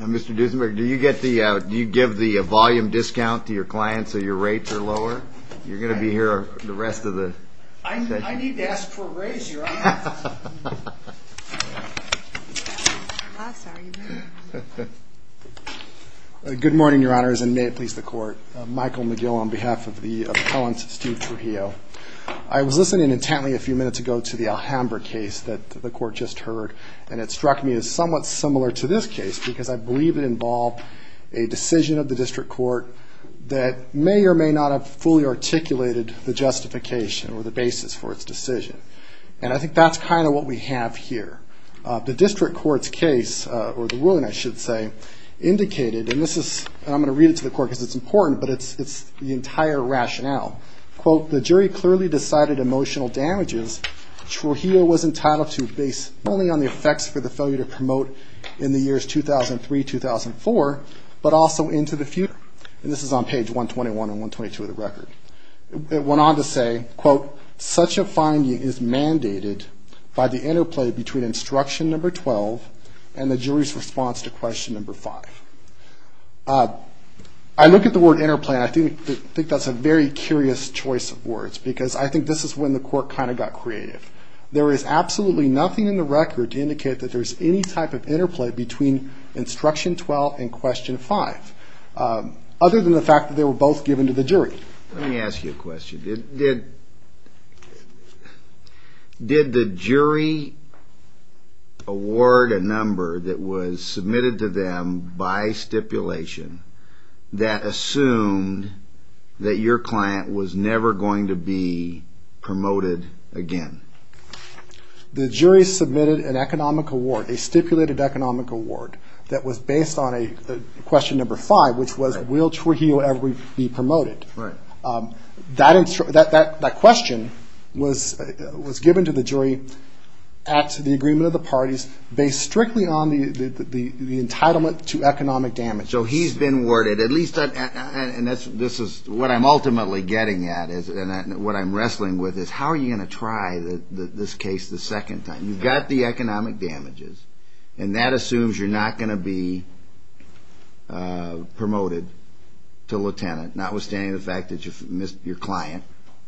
Mr. Duesenberg, do you give the volume discount to your clients so your rates are lower? You're going to be here the rest of the session. I need to ask for a raise, Your Honor. Good morning, Your Honors, and may it please the Court. Michael McGill on behalf of the appellant, Steve Trujillo. I was listening intently a few minutes ago to the Alhambra case that the Court just heard, and it struck me as somewhat similar to this case because I believe it involved a decision of the district court that may or may not have fully articulated the justification or the basis for its decision. And I think that's kind of what we have here. The district court's case, or the ruling I should say, indicated, and this is, and I'm going to read it to the Court because it's important, but it's the entire rationale. Quote, the jury clearly decided emotional damages Trujillo was entitled to based not only on the effects for the failure to promote in the years 2003-2004, but also into the future. And this is on page 121 and 122 of the record. It went on to say, quote, such a finding is mandated by the interplay between instruction number 12 and the jury's response to question number 5. I look at the word interplay and I think that's a very curious choice of words because I think this is when the Court kind of got creative. There is absolutely nothing in the record to indicate that there's any type of interplay between instruction 12 and question 5, other than the fact that they were both given to the jury. Let me ask you a question. Did the jury award a number that was submitted to them by stipulation that assumed that your client was never going to be promoted again? The jury submitted an economic award, a stipulated economic award, that was based on question number 5, which was will Trujillo ever be promoted. That question was given to the jury at the agreement of the parties based strictly on the entitlement to economic damage. So he's been awarded, at least, and this is what I'm ultimately getting at and what I'm wrestling with is how are you going to try this case the second time? You've got the economic damages, and that assumes you're not going to be promoted to lieutenant, notwithstanding the fact that your client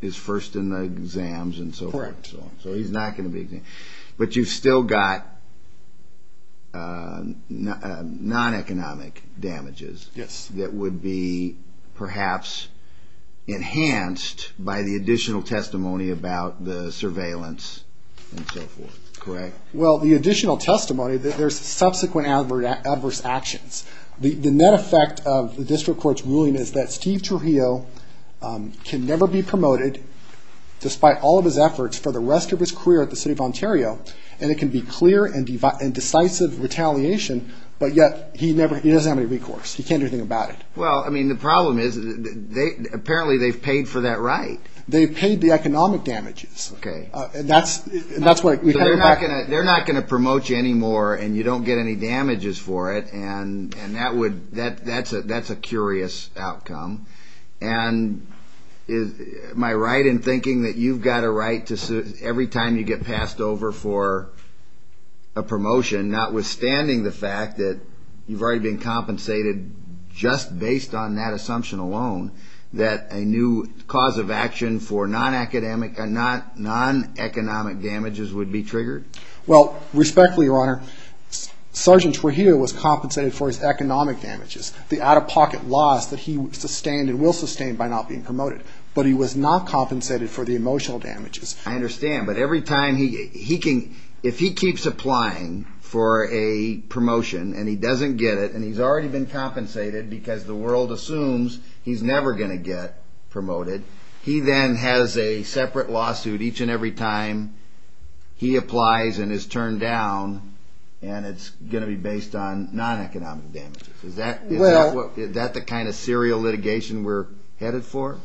is first in the exams and so forth. So he's not going to be exempt. But you've still got non-economic damages that would be perhaps enhanced by the additional testimony about the surveillance and so forth, correct? Well, the additional testimony, there's subsequent adverse actions. The net effect of the district court's ruling is that Steve Trujillo can never be promoted despite all of his efforts for the rest of his career at the City of Ontario, and it can be clear and decisive retaliation, but yet he doesn't have any recourse. He can't do anything about it. Well, I mean, the problem is apparently they've paid for that right. They've paid the economic damages. Okay. So they're not going to promote you anymore and you don't get any damages for it and that's a curious outcome. And am I right in thinking that you've got a right every time you get passed over for a promotion, notwithstanding the fact that you've already been compensated just based on that assumption alone, that a new cause of action for non-economic damages would be triggered? Well, respectfully, Your Honor, Sergeant Trujillo was compensated for his economic damages, the out-of-pocket loss that he sustained and will sustain by not being promoted, but he was not compensated for the emotional damages. I understand, but every time he can, if he keeps applying for a promotion and he doesn't get it and he's already been compensated because the world assumes he's never going to get promoted, he then has a separate lawsuit each and every time he applies and is turned down and it's going to be based on non-economic damages. Is that the kind of serial litigation we're headed for?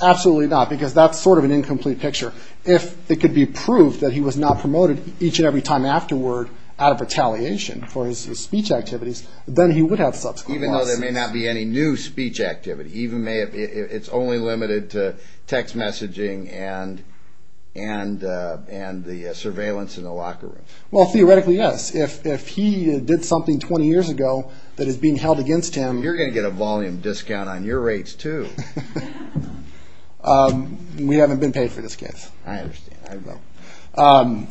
Absolutely not, because that's sort of an incomplete picture. If it could be proved that he was not promoted each and every time afterward out of retaliation for his speech activities, then he would have subsequent lawsuits. Even though there may not be any new speech activity. It's only limited to text messaging and the surveillance in the locker room. Well, theoretically, yes. If he did something 20 years ago that is being held against him... You're going to get a volume discount on your rates, too. We haven't been paid for this case. I understand. I vote.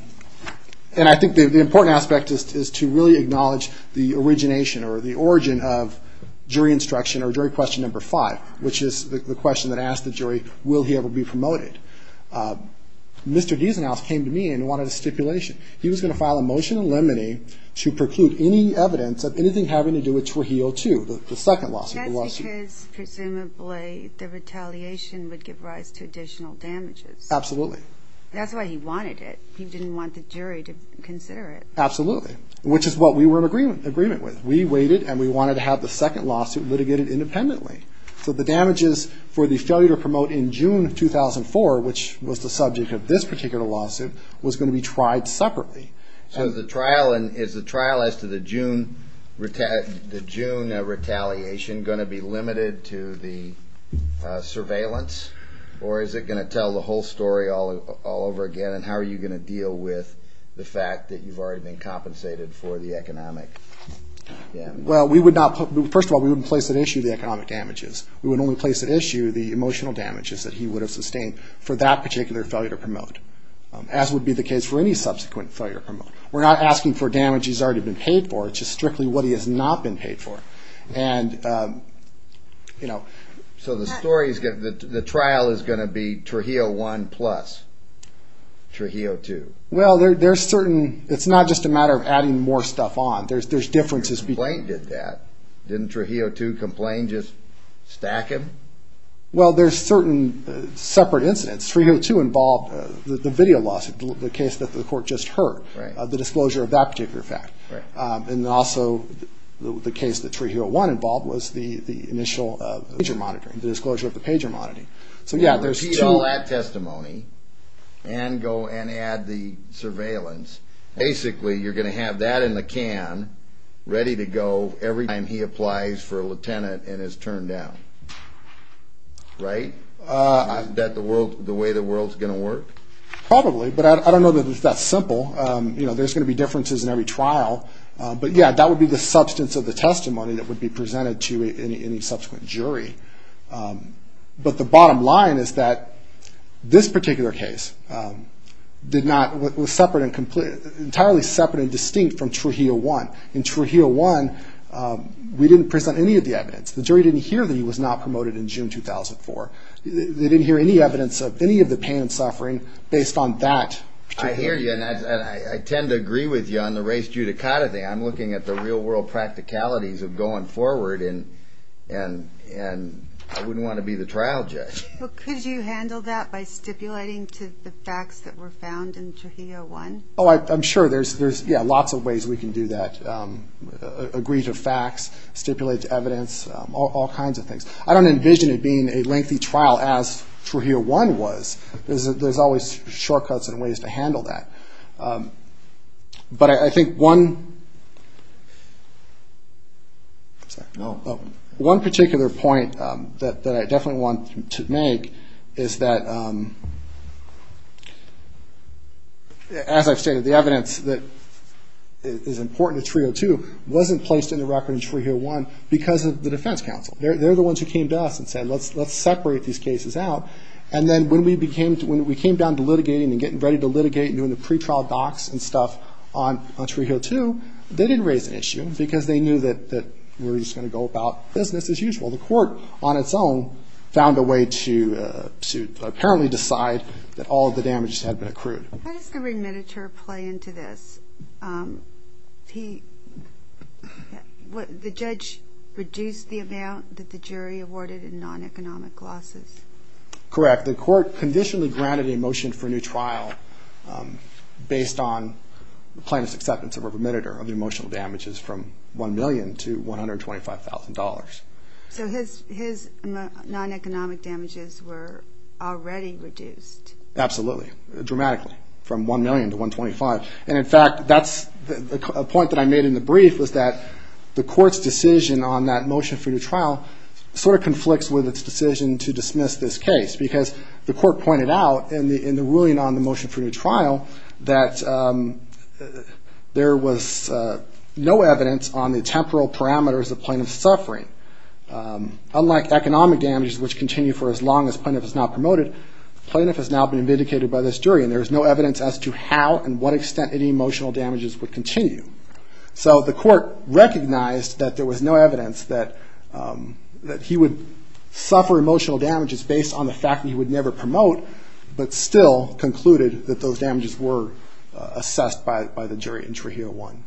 And I think the important aspect is to really acknowledge the origination or the origin of jury instruction or jury question number five, which is the question that asked the jury, will he ever be promoted? Mr. Deasonhouse came to me and wanted a stipulation. He was going to file a motion in limine to preclude any evidence of anything having to do with Trujillo 2, the second lawsuit. That's because presumably the retaliation would give rise to additional damages. Absolutely. That's why he wanted it. He didn't want the jury to consider it. Absolutely, which is what we were in agreement with. We waited, and we wanted to have the second lawsuit litigated independently. So the damages for the failure to promote in June 2004, which was the subject of this particular lawsuit, was going to be tried separately. So is the trial as to the June retaliation going to be limited to the surveillance, or is it going to tell the whole story all over again, and how are you going to deal with the fact that you've already been compensated for the economic damage? Well, first of all, we wouldn't place at issue the economic damages. We would only place at issue the emotional damages that he would have sustained for that particular failure to promote, as would be the case for any subsequent failure to promote. We're not asking for damage he's already been paid for. It's just strictly what he has not been paid for. So the trial is going to be Trujillo I plus Trujillo II. Well, it's not just a matter of adding more stuff on. There's differences between the two. Didn't Trujillo II complain, just stack him? Well, there's certain separate incidents. Trujillo II involved the video lawsuit, the case that the court just heard, the disclosure of that particular fact. And also the case that Trujillo I involved was the initial major monitoring, the disclosure of the pager monitoring. So, yeah, there's two. Well, repeat all that testimony and go and add the surveillance. Basically, you're going to have that in the can, ready to go every time he applies for a lieutenant and is turned down, right? Is that the way the world's going to work? Probably, but I don't know that it's that simple. There's going to be differences in every trial. But, yeah, that would be the substance of the testimony that would be presented to any subsequent jury. But the bottom line is that this particular case was entirely separate and distinct from Trujillo I. In Trujillo I, we didn't present any of the evidence. The jury didn't hear that he was not promoted in June 2004. They didn't hear any evidence of any of the pain and suffering based on that. I hear you, and I tend to agree with you on the race judicata thing. I'm looking at the real-world practicalities of going forward, and I wouldn't want to be the trial judge. Well, could you handle that by stipulating to the facts that were found in Trujillo I? Oh, I'm sure there's, yeah, lots of ways we can do that, agree to facts, stipulate to evidence, all kinds of things. I don't envision it being a lengthy trial as Trujillo I was. There's always shortcuts and ways to handle that. But I think one particular point that I definitely want to make is that, as I've stated, the evidence that is important to Trujillo II wasn't placed in the record in Trujillo I because of the defense counsel. They're the ones who came to us and said, let's separate these cases out. And then when we came down to litigating and getting ready to litigate and doing the pretrial docs and stuff on Trujillo II, they didn't raise an issue because they knew that we were just going to go about business as usual. The court, on its own, found a way to apparently decide that all of the damages had been accrued. How does the remitter play into this? The judge reduced the amount that the jury awarded in non-economic losses. Correct. The court conditionally granted a motion for a new trial based on plaintiff's acceptance of a remitter of the emotional damages from $1 million to $125,000. So his non-economic damages were already reduced. Absolutely, dramatically, from $1 million to $125,000. And, in fact, that's a point that I made in the brief was that the court's decision on that motion for a new trial sort of conflicts with its decision to dismiss this case because the court pointed out in the ruling on the motion for a new trial that there was no evidence on the temporal parameters of plaintiff's suffering. Unlike economic damages, which continue for as long as plaintiff is not promoted, plaintiff has now been vindicated by this jury and there is no evidence as to how and what extent any emotional damages would continue. So the court recognized that there was no evidence that he would suffer emotional damages based on the fact that he would never promote, but still concluded that those damages were assessed by the jury in Trujillo 1.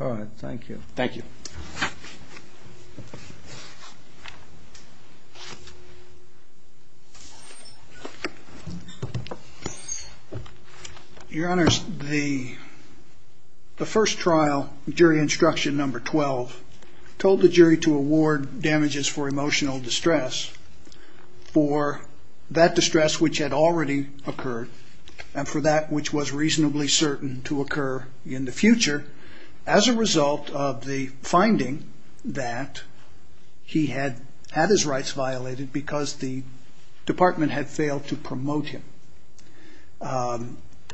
All right, thank you. Thank you. Your Honors, the first trial, jury instruction number 12, told the jury to award damages for emotional distress for that distress which had already occurred and for that which was reasonably certain to occur in the future as a result of the finding that he had had his rights violated because the department had failed to promote him.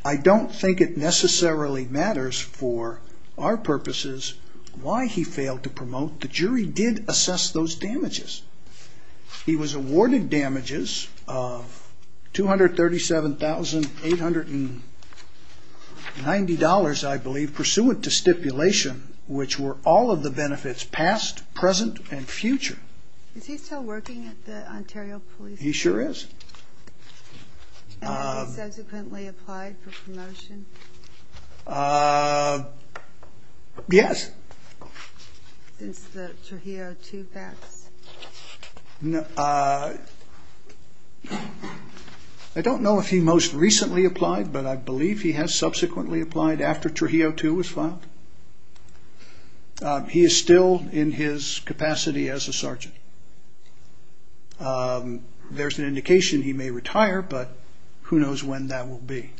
I don't think it necessarily matters for our purposes why he failed to promote. The jury did assess those damages. He was awarded damages of $237,890, I believe, pursuant to stipulation, which were all of the benefits past, present, and future. Is he still working at the Ontario Police Department? He sure is. Has he subsequently applied for promotion? Yes. Since the Trujillo 2 facts? I don't know if he most recently applied, but I believe he has subsequently applied after Trujillo 2 was filed. He is still in his capacity as a sergeant. There's an indication he may retire, but who knows when that will be.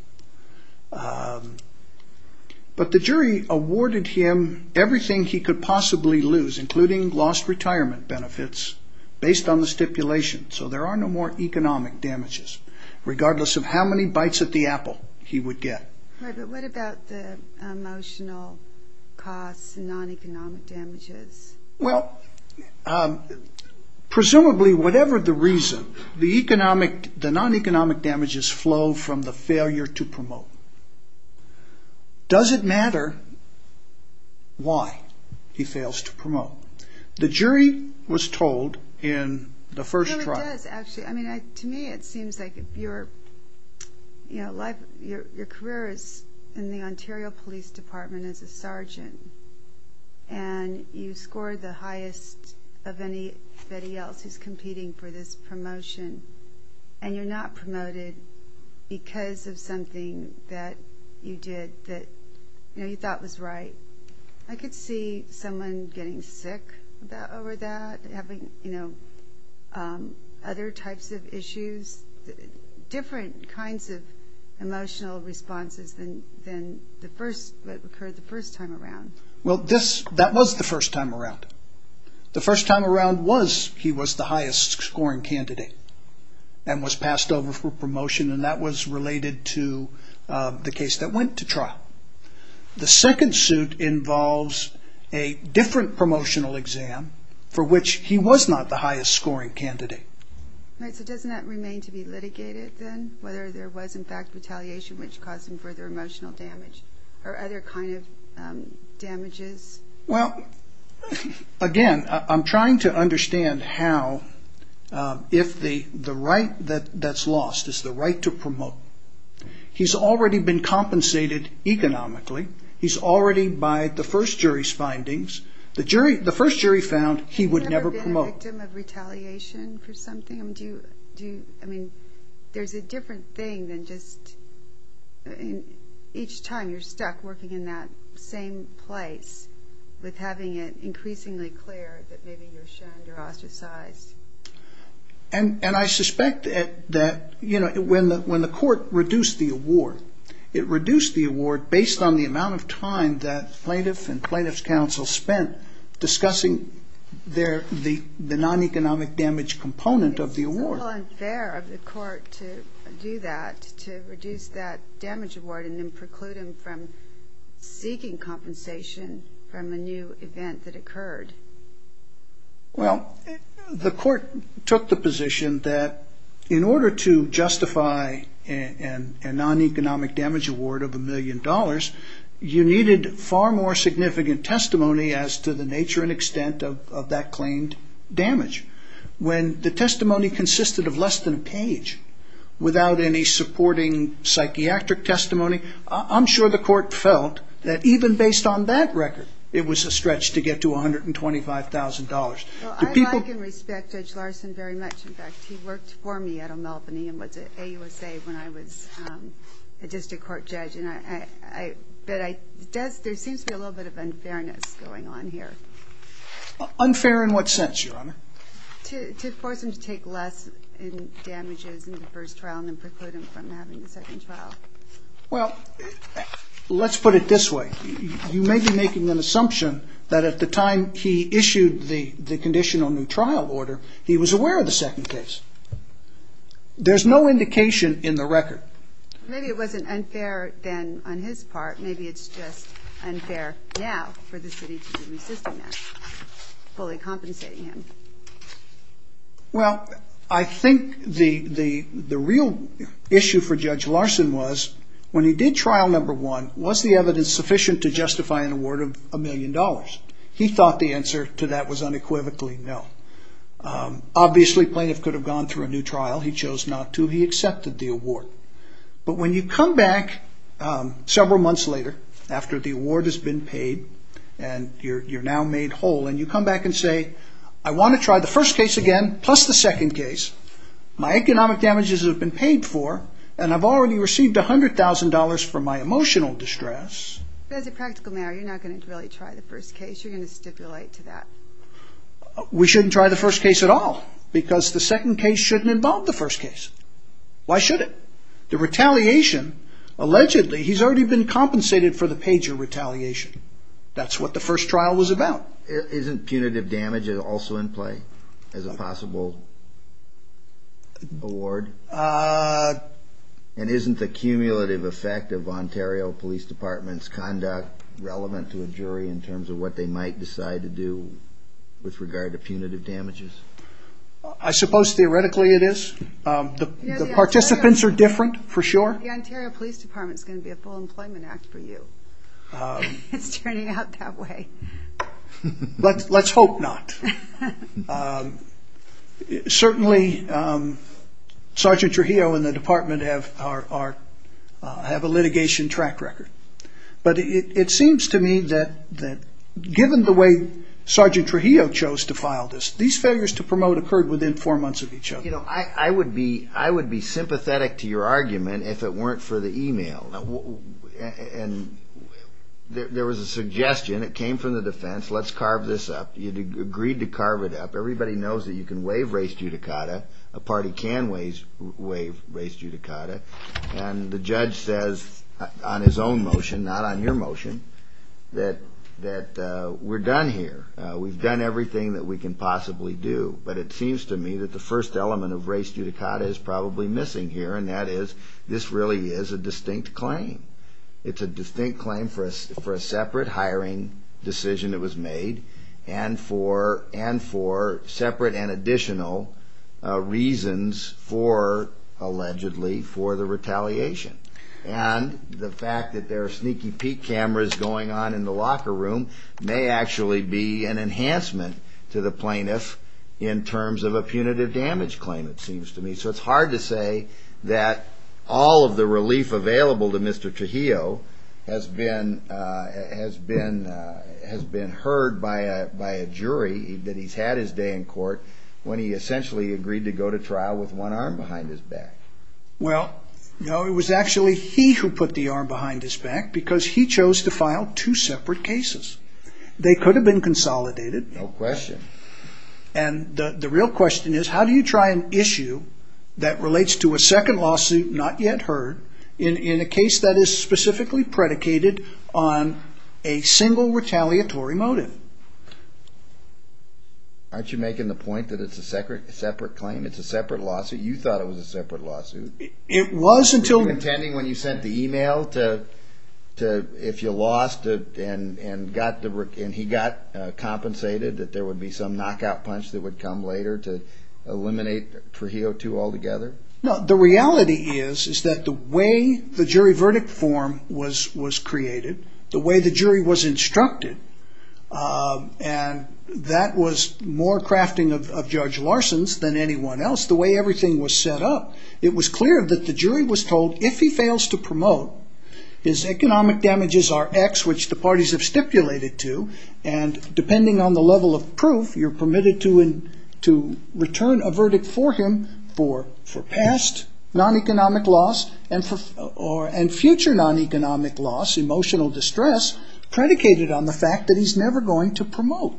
But the jury awarded him everything he could possibly lose, including lost retirement benefits, based on the stipulation. So there are no more economic damages, regardless of how many bites at the apple he would get. But what about the emotional costs and non-economic damages? Well, presumably, whatever the reason, the non-economic damages flow from the failure to promote. Does it matter why he fails to promote? The jury was told in the first trial... To me, it seems like your career is in the Ontario Police Department as a sergeant, and you scored the highest of anybody else who's competing for this promotion, and you're not promoted because of something that you did that you thought was right. I could see someone getting sick over that, having other types of issues, different kinds of emotional responses than what occurred the first time around. Well, that was the first time around. The first time around, he was the highest-scoring candidate and was passed over for promotion, and that was related to the case that went to trial. The second suit involves a different promotional exam for which he was not the highest-scoring candidate. So doesn't that remain to be litigated, then, whether there was, in fact, retaliation which caused him further emotional damage or other kind of damages? Well, again, I'm trying to understand how, if the right that's lost is the right to promote, he's already been compensated economically. He's already, by the first jury's findings, the first jury found he would never promote. Has he ever been a victim of retaliation for something? I mean, there's a different thing than just each time you're stuck working in that same place with having it increasingly clear that maybe you're shunned or ostracized. And I suspect that, you know, when the court reduced the award, it reduced the award based on the amount of time that plaintiff and plaintiff's counsel spent discussing the non-economic damage component of the award. It's not at all unfair of the court to do that, to reduce that damage award and then preclude him from seeking compensation from a new event that occurred. Well, the court took the position that in order to justify a non-economic damage award of a million dollars, you needed far more significant testimony as to the nature and extent of that claimed damage. When the testimony consisted of less than a page without any supporting psychiatric testimony, I'm sure the court felt that even based on that record, it was a stretch to get to $125,000. Well, I like and respect Judge Larson very much. In fact, he worked for me at O'Malbany and was at AUSA when I was a district court judge. But there seems to be a little bit of unfairness going on here. Unfair in what sense, Your Honor? To force him to take less in damages in the first trial and then preclude him from having the second trial. Well, let's put it this way. You may be making an assumption that at the time he issued the conditional new trial order, he was aware of the second case. There's no indication in the record. Maybe it wasn't unfair then on his part. Maybe it's just unfair now for the city to be resisting that, fully compensating him. Well, I think the real issue for Judge Larson was when he did trial number one, was the evidence sufficient to justify an award of a million dollars? He thought the answer to that was unequivocally no. Obviously, plaintiff could have gone through a new trial. He chose not to. He accepted the award. But when you come back several months later, after the award has been paid and you're now made whole, and you come back and say, I want to try the first case again, plus the second case. My economic damages have been paid for, and I've already received $100,000 for my emotional distress. But as a practical matter, you're not going to really try the first case. You're going to stipulate to that. We shouldn't try the first case at all because the second case shouldn't involve the first case. Why should it? The retaliation, allegedly, he's already been compensated for the pager retaliation. That's what the first trial was about. Isn't punitive damage also in play as a possible award? And isn't the cumulative effect of Ontario Police Department's conduct relevant to a jury in terms of what they might decide to do with regard to punitive damages? I suppose theoretically it is. The participants are different, for sure. The Ontario Police Department is going to be a full employment act for you. It's turning out that way. Let's hope not. Certainly Sergeant Trujillo and the department have a litigation track record. But it seems to me that given the way Sergeant Trujillo chose to file this, these failures to promote occurred within four months of each other. You know, I would be sympathetic to your argument if it weren't for the e-mail. And there was a suggestion. It came from the defense. Let's carve this up. You agreed to carve it up. Everybody knows that you can waive race judicata. A party can waive race judicata. And the judge says on his own motion, not on your motion, that we're done here. We've done everything that we can possibly do. But it seems to me that the first element of race judicata is probably missing here, and that is this really is a distinct claim. It's a distinct claim for a separate hiring decision that was made and for separate and additional reasons for, allegedly, for the retaliation. And the fact that there are sneaky peek cameras going on in the locker room may actually be an enhancement to the plaintiff in terms of a punitive damage claim, it seems to me. So it's hard to say that all of the relief available to Mr. Trujillo has been heard by a jury that he's had his day in court when he essentially agreed to go to trial with one arm behind his back. Well, no, it was actually he who put the arm behind his back because he chose to file two separate cases. They could have been consolidated. No question. And the real question is, how do you try an issue that relates to a second lawsuit not yet heard in a case that is specifically predicated on a single retaliatory motive? Aren't you making the point that it's a separate claim? It's a separate lawsuit? You thought it was a separate lawsuit? It was until... Were you contending when you sent the email to, if you lost and he got compensated, that there would be some knockout punch that would come later to eliminate Trujillo too altogether? No, the reality is that the way the jury verdict form was created, the way the jury was instructed, and that was more crafting of Judge Larson's than anyone else. The way everything was set up, it was clear that the jury was told if he fails to promote, his economic damages are X, which the parties have stipulated to, and depending on the level of proof, you're permitted to return a verdict for him for past non-economic loss and future non-economic loss, emotional distress, predicated on the fact that he's never going to promote.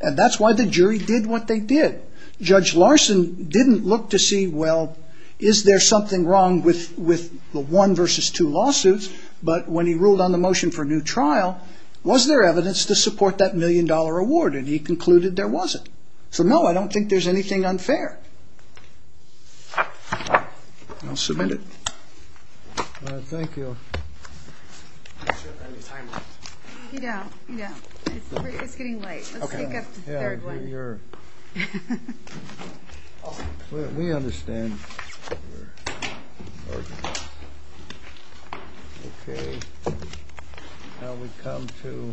And that's why the jury did what they did. Judge Larson didn't look to see, well, is there something wrong with the one versus two lawsuits? But when he ruled on the motion for a new trial, was there evidence to support that million-dollar award? And he concluded there wasn't. So no, I don't think there's anything unfair. I'll submit it. Thank you. We don't have any time left. Yeah, yeah, it's getting late. Let's sneak up to the third one. Yeah, we understand. Okay, now we come to